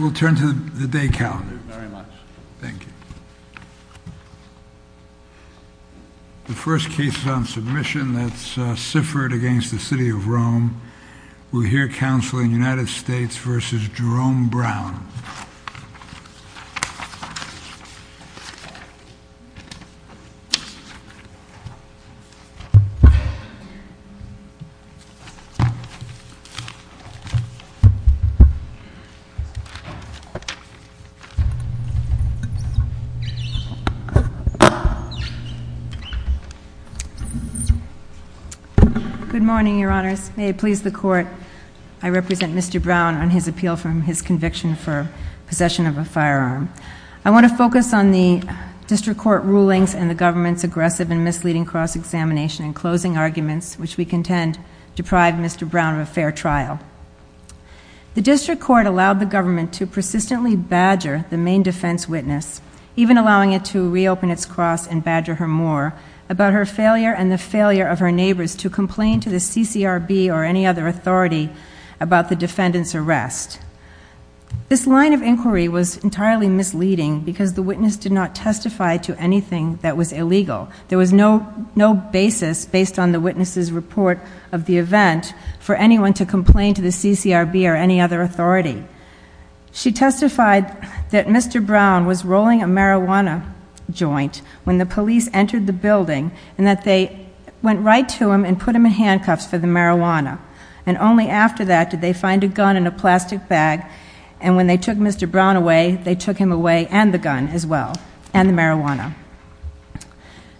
The first case on submission that's Siffert v. City of Rome. We'll hear counsel in United Good morning, your honors. May it please the court, I represent Mr. Brown on his appeal from his conviction for possession of a firearm. I want to focus on the district court rulings and the government's aggressive and misleading cross-examination and closing arguments which we contend deprived Mr. Brown of a fair trial. The district court allowed the government to persistently badger the main defense witness, even allowing it to reopen its cross and badger her more, about her failure and the failure of her neighbors to complain to the CCRB or any other authority about the defendant's arrest. This line of inquiry was entirely misleading because the witness did not testify to anything that was illegal. There was no basis based on the witness's report of the event for anyone to complain to the CCRB or any other authority. She testified that Mr. Brown was rolling a marijuana joint when the police entered the building and that they went right to him and put him in handcuffs for the marijuana and only after that did they find a gun in a plastic bag and when they took Mr. Brown away, they took him away and the gun as well and the marijuana.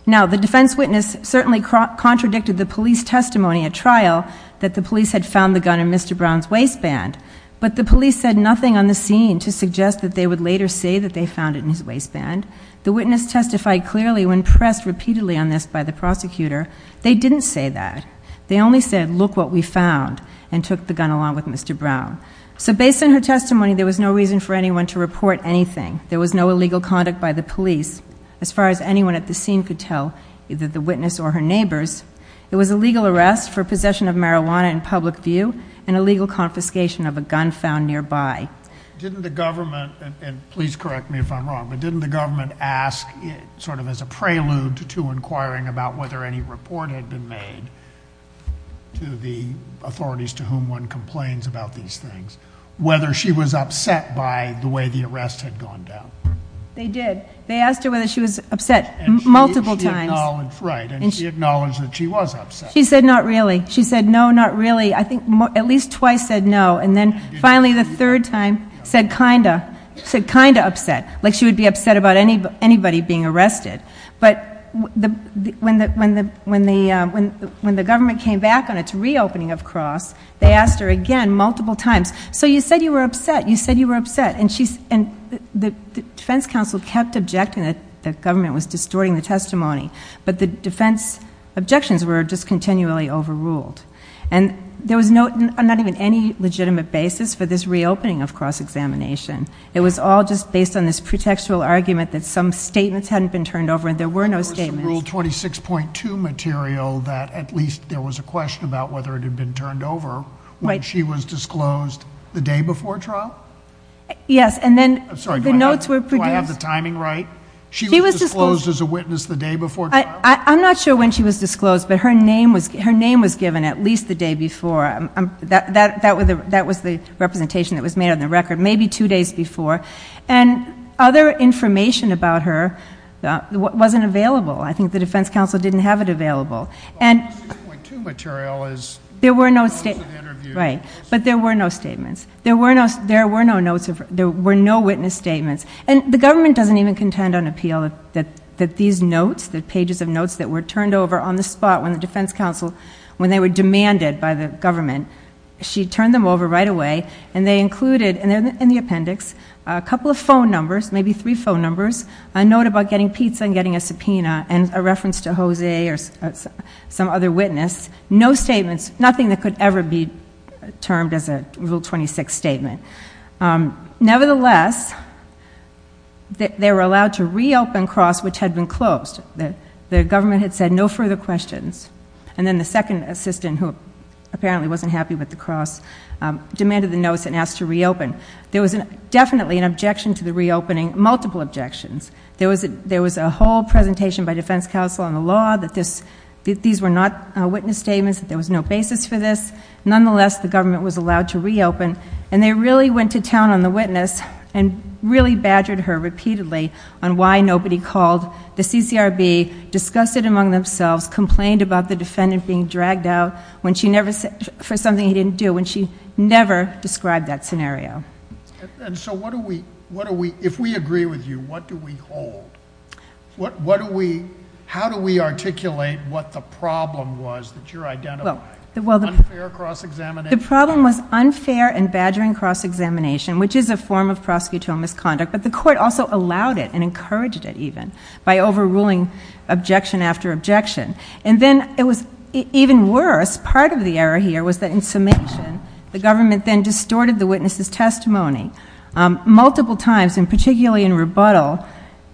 Now the defense witness certainly contradicted the police testimony at trial that the police had found the gun in Mr. Brown's waistband, but the police said nothing on the scene to suggest that they would later say that they found it in his waistband. The witness testified clearly when pressed repeatedly on this by the prosecutor. They didn't say that. They only said, look what we found and took the gun along with Mr. Brown. So based on her testimony, there was no reason for anyone to report anything. There was no illegal conduct by the police. As far as anyone at the scene could tell, either the witness or her neighbors, it was a legal arrest for possession of marijuana in public view and a legal confiscation of a gun found nearby. Didn't the government, and please correct me if I'm wrong, but didn't the government ask sort of as a prelude to inquiring about whether any report had been made to the authorities to whom one complains about these things, whether she was upset by the way the arrest had gone down? They did. They asked her whether she was upset multiple times. And she acknowledged that she was upset. She said not really. She said no, not really. I think at least twice said no. And then finally the third time said kinda, said kinda upset, like she would be upset about anybody being arrested. But when the government came back on its reopening of Cross, they asked her again multiple times. So you said you were upset. You said you were upset. And the defense counsel kept objecting that the government was distorting the testimony. But the defense objections were just continually overruled. And there was not even any legitimate basis for this reopening of Cross Examination. It was all just based on this pretextual argument that some statements hadn't been turned over and there were no statements. There was some Rule 26.2 material that at least there was a question about whether it had been turned over when she was disclosed the day before trial? Yes, and then the notes were produced. Do I have the timing right? She was disclosed as a witness the day before trial? I'm not sure when she was disclosed, but her name was given at least the day before. That was the representation that was made on the record. Maybe two days before. And other information about her wasn't available. I think the defense counsel didn't have it available. And there were no statements. There were no witness statements. And the government doesn't even contend on appeal that these notes, the pages of notes that were turned over on the spot when the defense counsel, when they were demanded by the government, she turned them over right away and they included in the appendix a couple of phone numbers, maybe three phone numbers, a note about getting pizza and getting a subpoena and a reference to Jose or some other witness. No statements, nothing that could ever be termed as a Rule 26 statement. Nevertheless, they were allowed to reopen Cross, which had been closed. The government had said no further questions. And then the second assistant who apparently wasn't happy with the Cross, demanded the notes and asked to reopen. There was definitely an objection to the reopening, multiple objections. There was a whole presentation by defense counsel on the law that these were not witness statements, that there was no basis for this. Nonetheless, the government was allowed to reopen. And they really went to town on the witness and really badgered her repeatedly on why nobody called the CCRB, discussed it among themselves, complained about the defendant being dragged out when she never said, for something he didn't do, when she never described that scenario. And so what do we, what do we, if we agree with you, what do we hold? What, what do we, how do we articulate what the problem was that you're identifying? Unfair cross-examination? The problem was unfair and badgering cross-examination, which is a form of prosecutorial misconduct, but the court also allowed it and encouraged it even by overruling objection after objection. And then it was even worse. Part of the error here was that in summation, the government then distorted the witness's testimony multiple times, and particularly in rebuttal,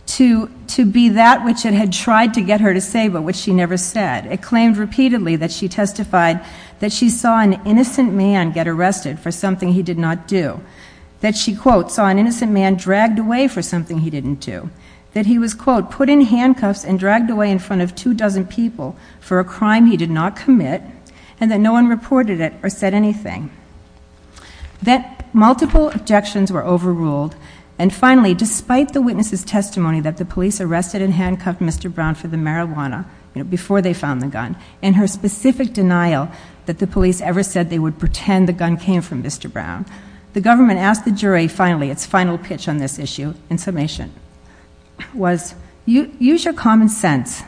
to be that which it had tried to get her to say, but which she never said. It claimed repeatedly that she testified that she saw an innocent man get arrested for something he did not do, that she, quote, saw an innocent man dragged away for something he didn't do, that he was, quote, put in handcuffs and dragged away in front of two dozen people for a crime he did not commit, and that no one reported it or said anything. That multiple objections were overruled, and finally, despite the witness's testimony that the police arrested and handcuffed Mr. Brown for the marijuana, you know, before they found the gun, and her specific denial that the police ever said they would pretend the gun came from Mr. Brown, the government asked the jury finally, its final pitch on this issue, in summation, was, use your common sense,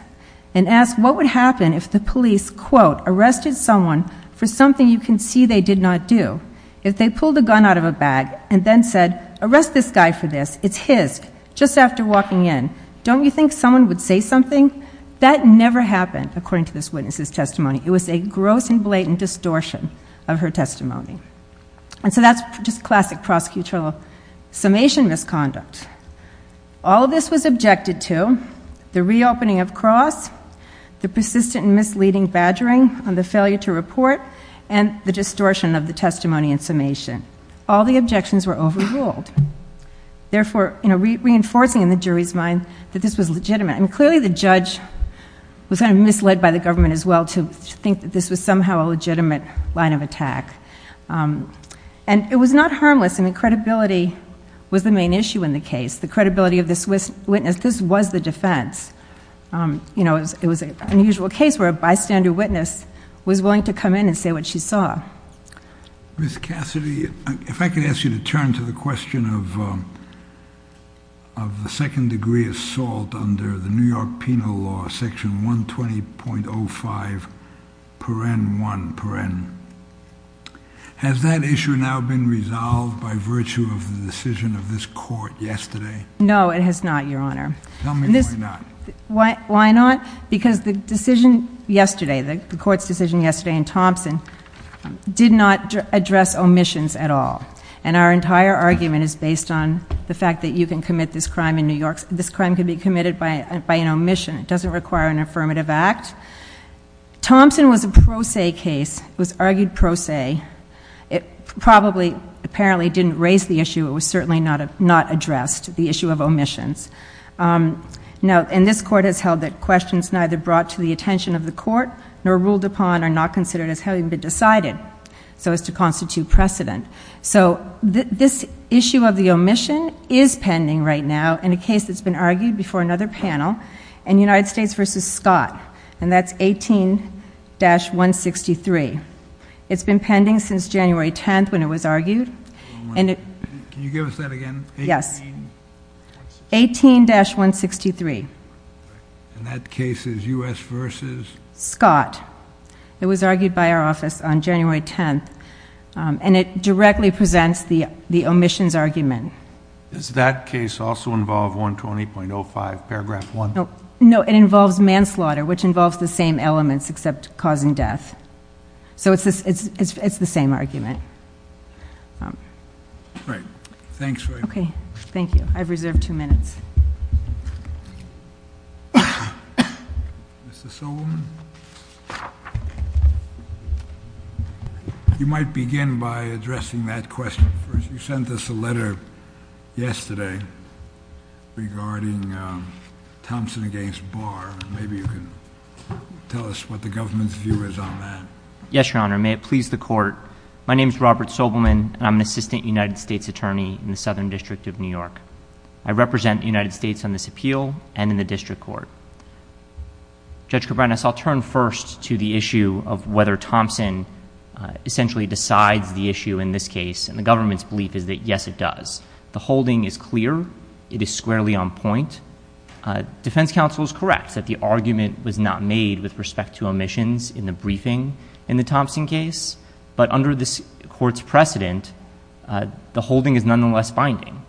and ask what would happen if the police, quote, arrested someone for something you can see they did not do, if they pulled the gun out of a bag and then said, arrest this guy for this, it's his, just after walking in, don't you think someone would say something? That never happened, according to this witness's testimony. It was a gross and blatant distortion of her testimony. And so that's just classic prosecutorial summation misconduct. All this was objected to, the reopening of Cross, the persistent and misleading badgering on the failure to report, and the distortion of the testimony in summation. All the objections were overruled. Therefore, you know, reinforcing in the jury's mind that this was legitimate. And clearly the judge was kind of misled by the government as well to think that this was somehow a legitimate line of attack. And it was not harmless. I mean, credibility was the main issue in the case. The credibility of this witness, this was the defense. You know, it was an unusual case where a bystander witness was willing to come in and say what she saw. Ms. Cassidy, if I could ask you to turn to the question of the second degree assault under the New York penal law, section 120.05, paren 1, paren. Has that issue now been resolved by virtue of the decision of this court yesterday? No, it has not, Your Honor. Tell me why not. Why not? Because the decision yesterday, the court's decision yesterday in Thompson did not address omissions at all. And our entire argument is based on the fact that you can commit this crime in New York, this crime can be committed by an omission. It doesn't require an affirmative act. Thompson was a pro se case. It was argued pro se. It probably, apparently didn't raise the issue. It was certainly not addressed, the issue of omissions. And this court has held that questions neither brought to the attention of the court nor ruled upon are not considered as having been decided so as to constitute precedent. So this issue of the omission is pending right now in a case that's been argued before another panel in United States v. Scott, and that's 18-163. It's been pending since January 10th when it was argued. Can you give us that again? 18-163. And that case is U.S. v. Scott. It was argued by our office on January 10th, and it directly presents the omissions argument. Does that case also involve 120.05 paragraph 1? No, it involves manslaughter, which involves the same elements except causing death. So it's the same argument. All right. Thanks very much. Okay. Thank you. I've reserved two minutes. Mr. Sobelman? You might begin by addressing that question first. You sent us a letter yesterday regarding Thompson against Barr. Maybe you can tell us what the government's view is on that. Yes, Your Honor. May it please the court. My name is Robert Sobelman, and I'm an assistant United States attorney in the Southern District of New York. I represent the United States on this appeal and in the district court. Judge Kovanec, I'll turn first to the issue of whether Thompson essentially decides the issue in this case, and the government's belief is that, yes, it does. The holding is clear. It is squarely on point. Defense counsel is correct that the argument was not made with respect to omissions in the briefing in the Thompson case, but under this court's precedent, the holding is nonetheless binding.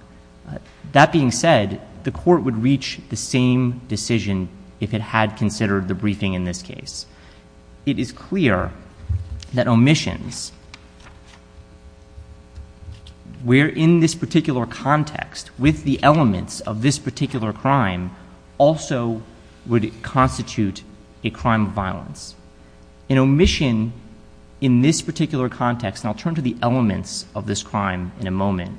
That being said, the court would reach the same decision if it had considered the briefing in this case. It is clear that where in this particular context, with the elements of this particular crime, also would constitute a crime of violence. An omission in this particular context, and I'll turn to the elements of this crime in a moment,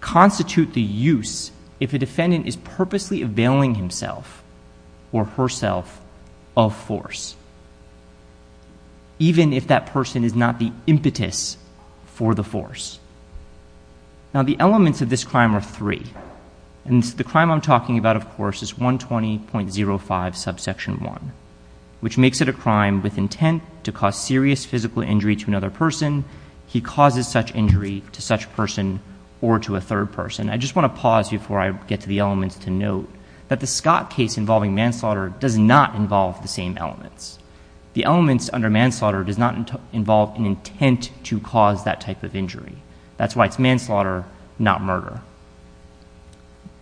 constitute the use if a defendant is purposely availing himself or herself of force, even if that person is not the impetus for the force. Now, the elements of this crime are three, and the crime I'm talking about, of course, is 120.05 subsection 1, which makes it a crime with intent to cause serious physical injury to another person. He causes such injury to such person or to a third person. I just want to pause before I get to the elements to note that the Scott case involving manslaughter does not involve the same elements. The elements under manslaughter does not involve an intent to cause that type of injury. That's why it's manslaughter, not murder.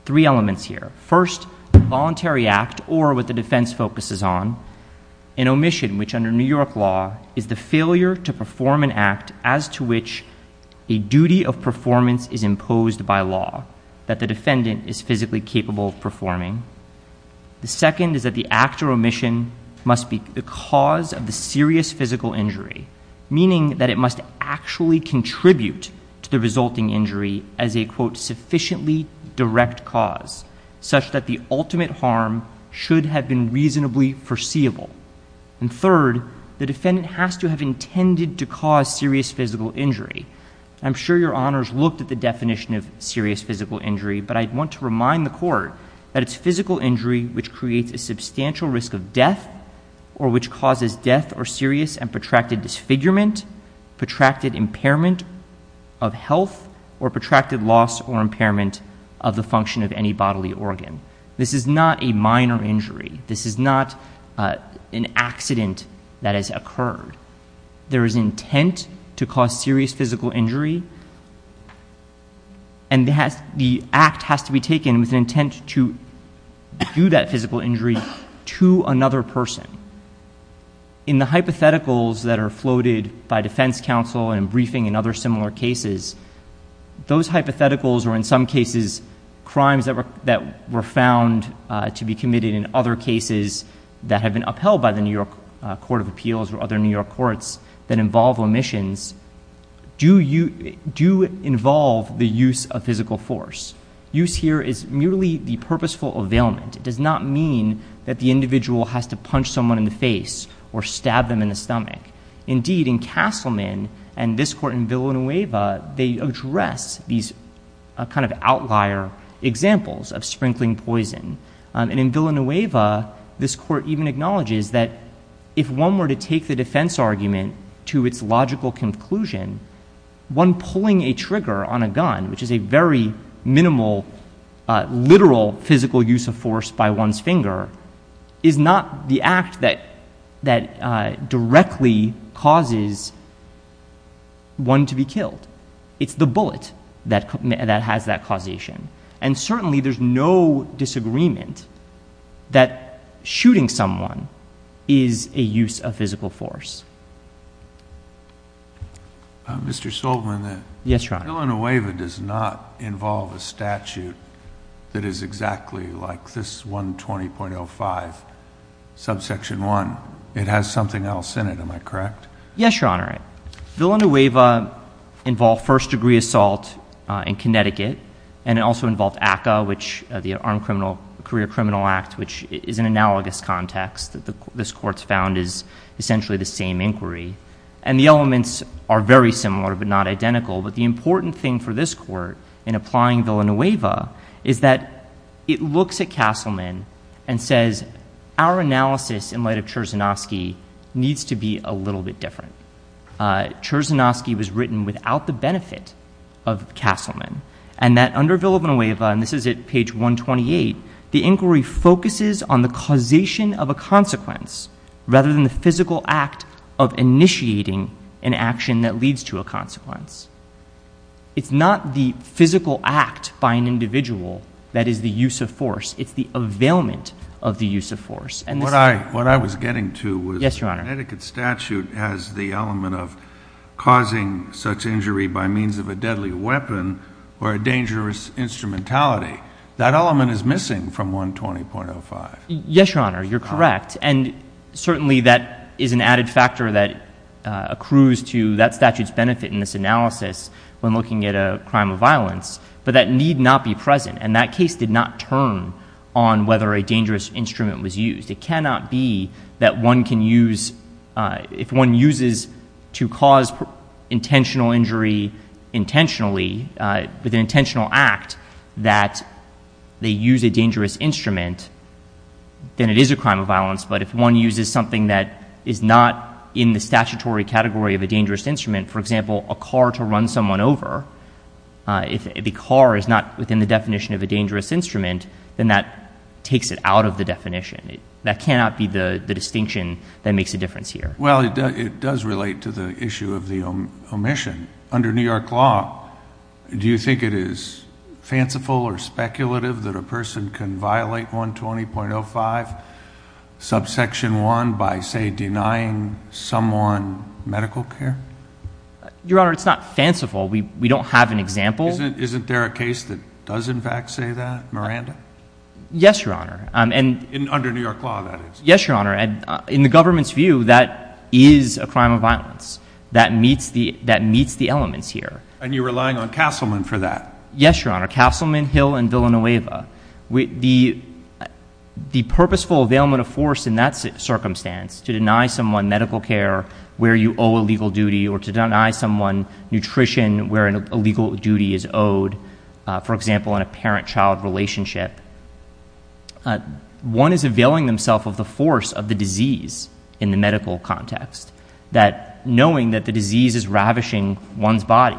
Three elements here. First, voluntary act, or what the defense focuses on, an omission which under New York law is the failure to perform an act as to which a duty of performance is imposed by law that the defendant is physically capable of performing. The second is that the act or omission must be the cause of the serious physical injury, meaning that it must actually contribute to the resulting injury as a, quote, sufficiently direct cause, such that the ultimate harm should have been reasonably foreseeable. And third, the defendant has to have intended to cause serious physical injury. I'm sure your honors looked at the definition of serious physical injury, but I want to remind the court that it's physical injury which creates a substantial risk of death or which causes death or serious and protracted disfigurement, protracted impairment of health, or protracted loss or impairment of the function of any bodily organ. This is not a minor injury. This is not an accident that has occurred. There is intent to cause serious physical injury, and the act has to be taken with intent to do that physical injury to another person. In the hypotheticals that are floated by defense counsel and briefing and other similar cases, those hypotheticals are in some cases crimes that were found to be committed in other cases that have been upheld by the New York Court of Appeals or other New York courts that involve omissions, do involve the use of physical force. Use here is merely the purposeful availment. It does not mean that the individual has to punch someone in the face or stab them in the stomach. Indeed, in Castleman and this court in Villanueva, they address these kind of outlier examples of sprinkling poison. In Villanueva, this court even acknowledges that if one were to take the defense argument to its logical conclusion, one pulling a trigger on a gun, which is a very minimal, literal physical use of force by one's finger, is not the act that directly causes one to be convinced that shooting someone is a use of physical force. Mr. Soltman, Villanueva does not involve a statute that is exactly like this 120.05 subsection 1. It has something else in it, am I correct? Yes, Your Honor. Villanueva involved first degree assault in Connecticut, and it also involved a career criminal act, which is an analogous context that this court's found is essentially the same inquiry. The elements are very similar but not identical. The important thing for this court in applying Villanueva is that it looks at Castleman and says, our analysis in light of Cherzynovsky needs to be a little bit different. Cherzynovsky was written without the benefit of Castleman, and that under Villanueva, and this is at page 128, the inquiry focuses on the causation of a consequence rather than the physical act of initiating an action that leads to a consequence. It's not the physical act by an individual that is the use of force. It's the availment of the use of force. What I was getting to was Connecticut statute has the element of causing such injury by means of a deadly weapon or a dangerous instrumentality. That element is missing from 120.05. Yes, Your Honor, you're correct. And certainly that is an added factor that accrues to that statute's benefit in this analysis when looking at a crime of violence. But that need not be present, and that case did not turn on whether a dangerous instrument was used. It was an intentional act that they use a dangerous instrument, then it is a crime of violence. But if one uses something that is not in the statutory category of a dangerous instrument, for example, a car to run someone over, if the car is not within the definition of a dangerous instrument, then that takes it out of the definition. That cannot be the distinction that makes a difference here. Well, it does relate to the issue of the omission. Under New York law, do you think it is fanciful or speculative that a person can violate 120.05 subsection 1 by, say, denying someone medical care? Your Honor, it's not fanciful. We don't have an example. Isn't there a case that does, in fact, say that, Miranda? Yes, Your Honor. Under New York law, that is. Yes, Your Honor. In the government's view, that is a crime of violence. That meets the elements here. And you're relying on Castleman for that? Yes, Your Honor. Castleman, Hill, and Villanueva. The purposeful availment of force in that circumstance, to deny someone medical care where you owe a legal duty, or to deny someone nutrition where an illegal duty is owed, for example, in a parent-child relationship, one is availing themselves of the force of the disease in the medical context. That knowing that the disease is ravishing one's body,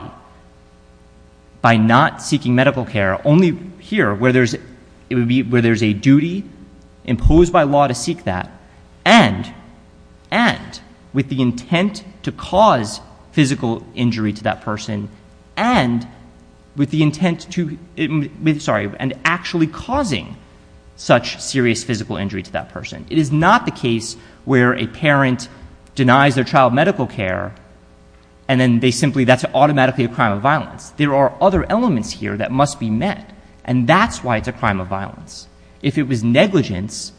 by not seeking medical care, only here, where there's a duty imposed by law to seek that, and with the intent to cause physical injury to that person, and with the intent to, sorry, and actually causing such serious physical injury to that person. It is not the case where a parent denies their child medical care, and then they simply, that's automatically a crime of violence. There are other elements here that must be met. And that's why it's a crime of violence. If it was negligence,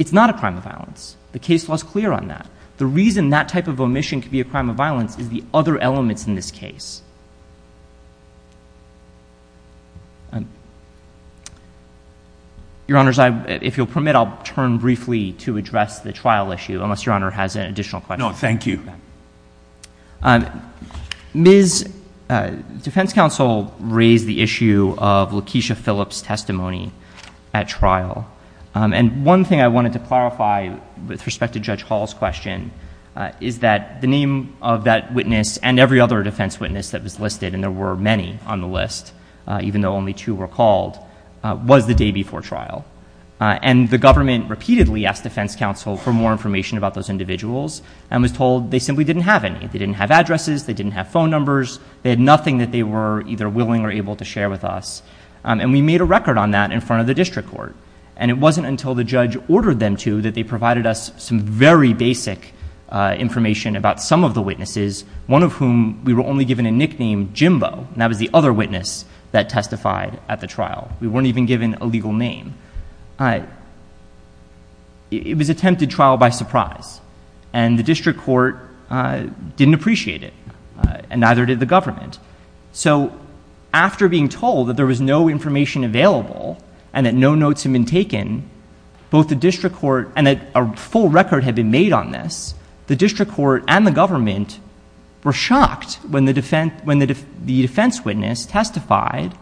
it's not a crime of violence. The case law is clear on that. The reason that type of omission could be a crime of violence is the other elements in this case. Your Honors, if you'll permit, I'll turn briefly to address the trial issue, unless Your Honor has an additional question. No, thank you. Ms. Defense Counsel raised the issue of Lakeisha Phillips' testimony at trial. And one thing I wanted to clarify with respect to Judge Hall's question is that the name of that witness, and every other defense witness that was listed, and there were many on the list, even though only two were called, was the day before trial. And the government repeatedly asked Defense Counsel for more information about those individuals, and was told they simply didn't have any. They didn't have addresses. They didn't have phone numbers. They had nothing that they were either willing or able to share with us. And we made a record on that in front of the district court. And it wasn't until the judge ordered them to that they provided us some very basic information about some of the witnesses, one of whom we were only given a nickname, Jimbo, and that was the other witness that testified at the trial. We weren't even given a legal name. It was attempted trial by surprise, and the district court didn't appreciate it, and neither did the government. So after being told that there was no information available and that no notes had been taken, both the district court and a full record had been made on this, the district court and the government were shocked when the defense witness testified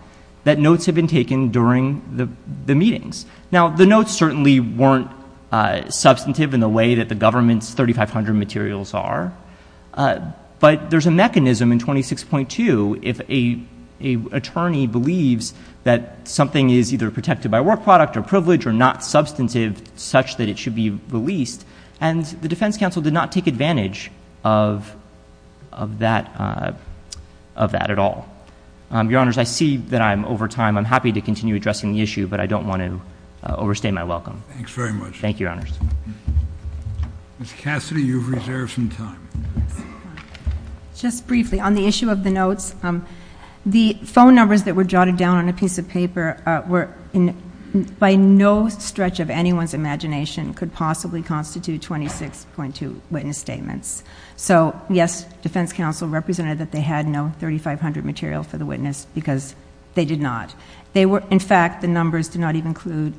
that notes had been taken during the meetings. Now the notes certainly weren't substantive in the way that the government's 3,500 materials are, but there's a mechanism in 26.2 if an attorney believes that something is either protected by work product or privilege or not substantive such that it should be released, and the defense counsel did not take advantage of that at all. Your Honors, I see that I'm over time. I'm happy to continue addressing the issue, but I don't want to overstay my welcome. Thanks very much. Thank you, Your Honors. Ms. Cassidy, you've reserved some time. Just briefly, on the issue of the notes, the phone numbers that were jotted down on a piece of paper were by no stretch of anyone's imagination could possibly constitute 26.2 witness statements. So yes, defense counsel represented that they had no 3,500 material for the witness because they did not. In fact, the numbers did not even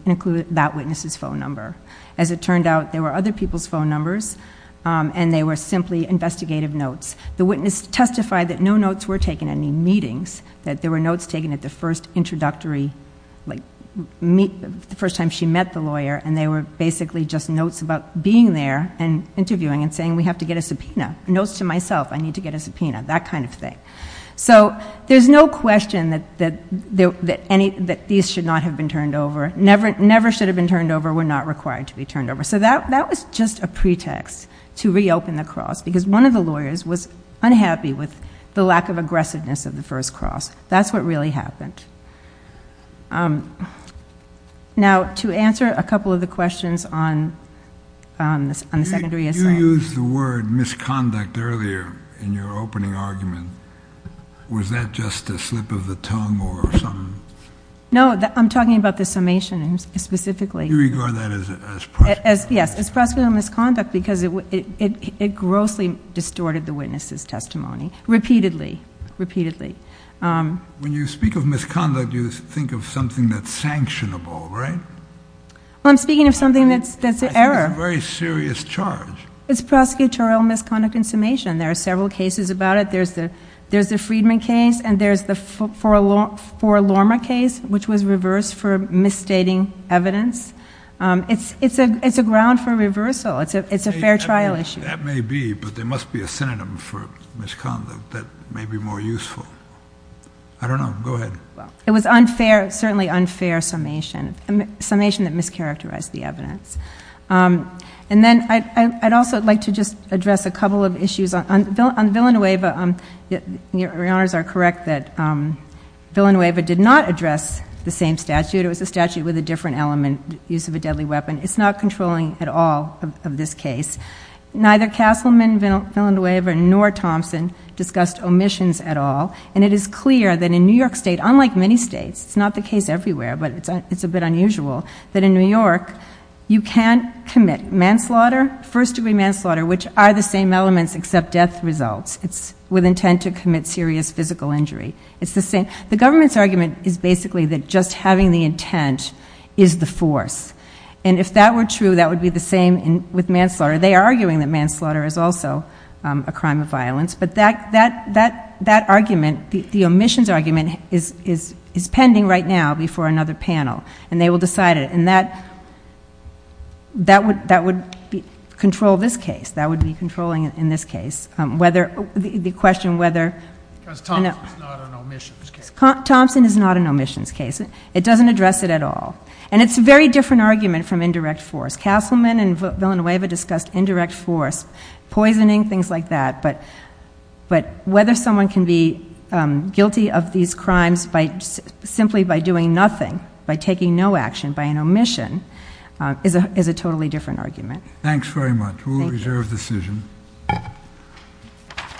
include that witness's phone number. As it turned out, there were other people's phone numbers and they were simply investigative notes. The witness testified that no notes were taken at any meetings, that there were notes taken at the first introductory, like the first time she met the lawyer, and they were basically just notes about being there and interviewing and saying, we have to get a subpoena, notes to myself, I need to get a subpoena, that kind of thing. So there's no question that these should not have been turned over, never should have been turned over, were not required to be turned over. So that was just a pretext to reopen the cross because one of the lawyers was unhappy with the lack of aggressiveness of the first cross. That's what really happened. Now to answer a couple of the questions on the secondary assailant... You used the word misconduct earlier in your opening argument. Was that just a slip of the tongue or some... No, I'm talking about the summation specifically. You regard that as prosecutorial misconduct. Yes, as prosecutorial misconduct because it grossly distorted the witness's testimony, repeatedly, repeatedly. When you speak of misconduct, you think of something that's sanctionable, right? Well, I'm speaking of something that's an error. I think it's a very serious charge. It's prosecutorial misconduct in summation. There are several cases about it. There's the Friedman case and there's the Forlorma case, which was reversed for misstating evidence. It's a ground for reversal. It's a fair trial issue. That may be, but there must be a synonym for misconduct that may be more useful. I don't know. Go ahead. It was unfair, certainly unfair summation. Summation that mischaracterized the evidence. And then I'd also like to just address a couple of issues. On Villanueva, your Honors are correct that Villanueva did not address the same statute. It was a statute with a different element, use of a deadly weapon. It's not controlling at all of this case. Neither Castleman, Villanueva, nor Thompson discussed omissions at all. And it is clear that in New York State, unlike many states, it's not the case everywhere, but it's a bit unusual, that in New York, you can't commit manslaughter, first degree manslaughter, which are the same elements except death results. It's with intent to commit serious physical injury. It's the same. The government's argument is basically that just having the intent is the force. And if that were true, that would be the same with manslaughter. They are arguing that manslaughter is also a crime of violence. But that argument, the omissions argument, is pending right now before another panel. And they will decide it. And that would control this case. That would be controlling in this case. Whether the question whether... Thompson is not an omissions case. It doesn't address it at all. And it's a very different argument from indirect force. Castleman and Villanueva discussed indirect force, poisoning, things like that. But whether someone can be guilty of these crimes simply by doing nothing, by taking no action, by an omission, is a totally different argument. Thanks very much. We'll reserve decision.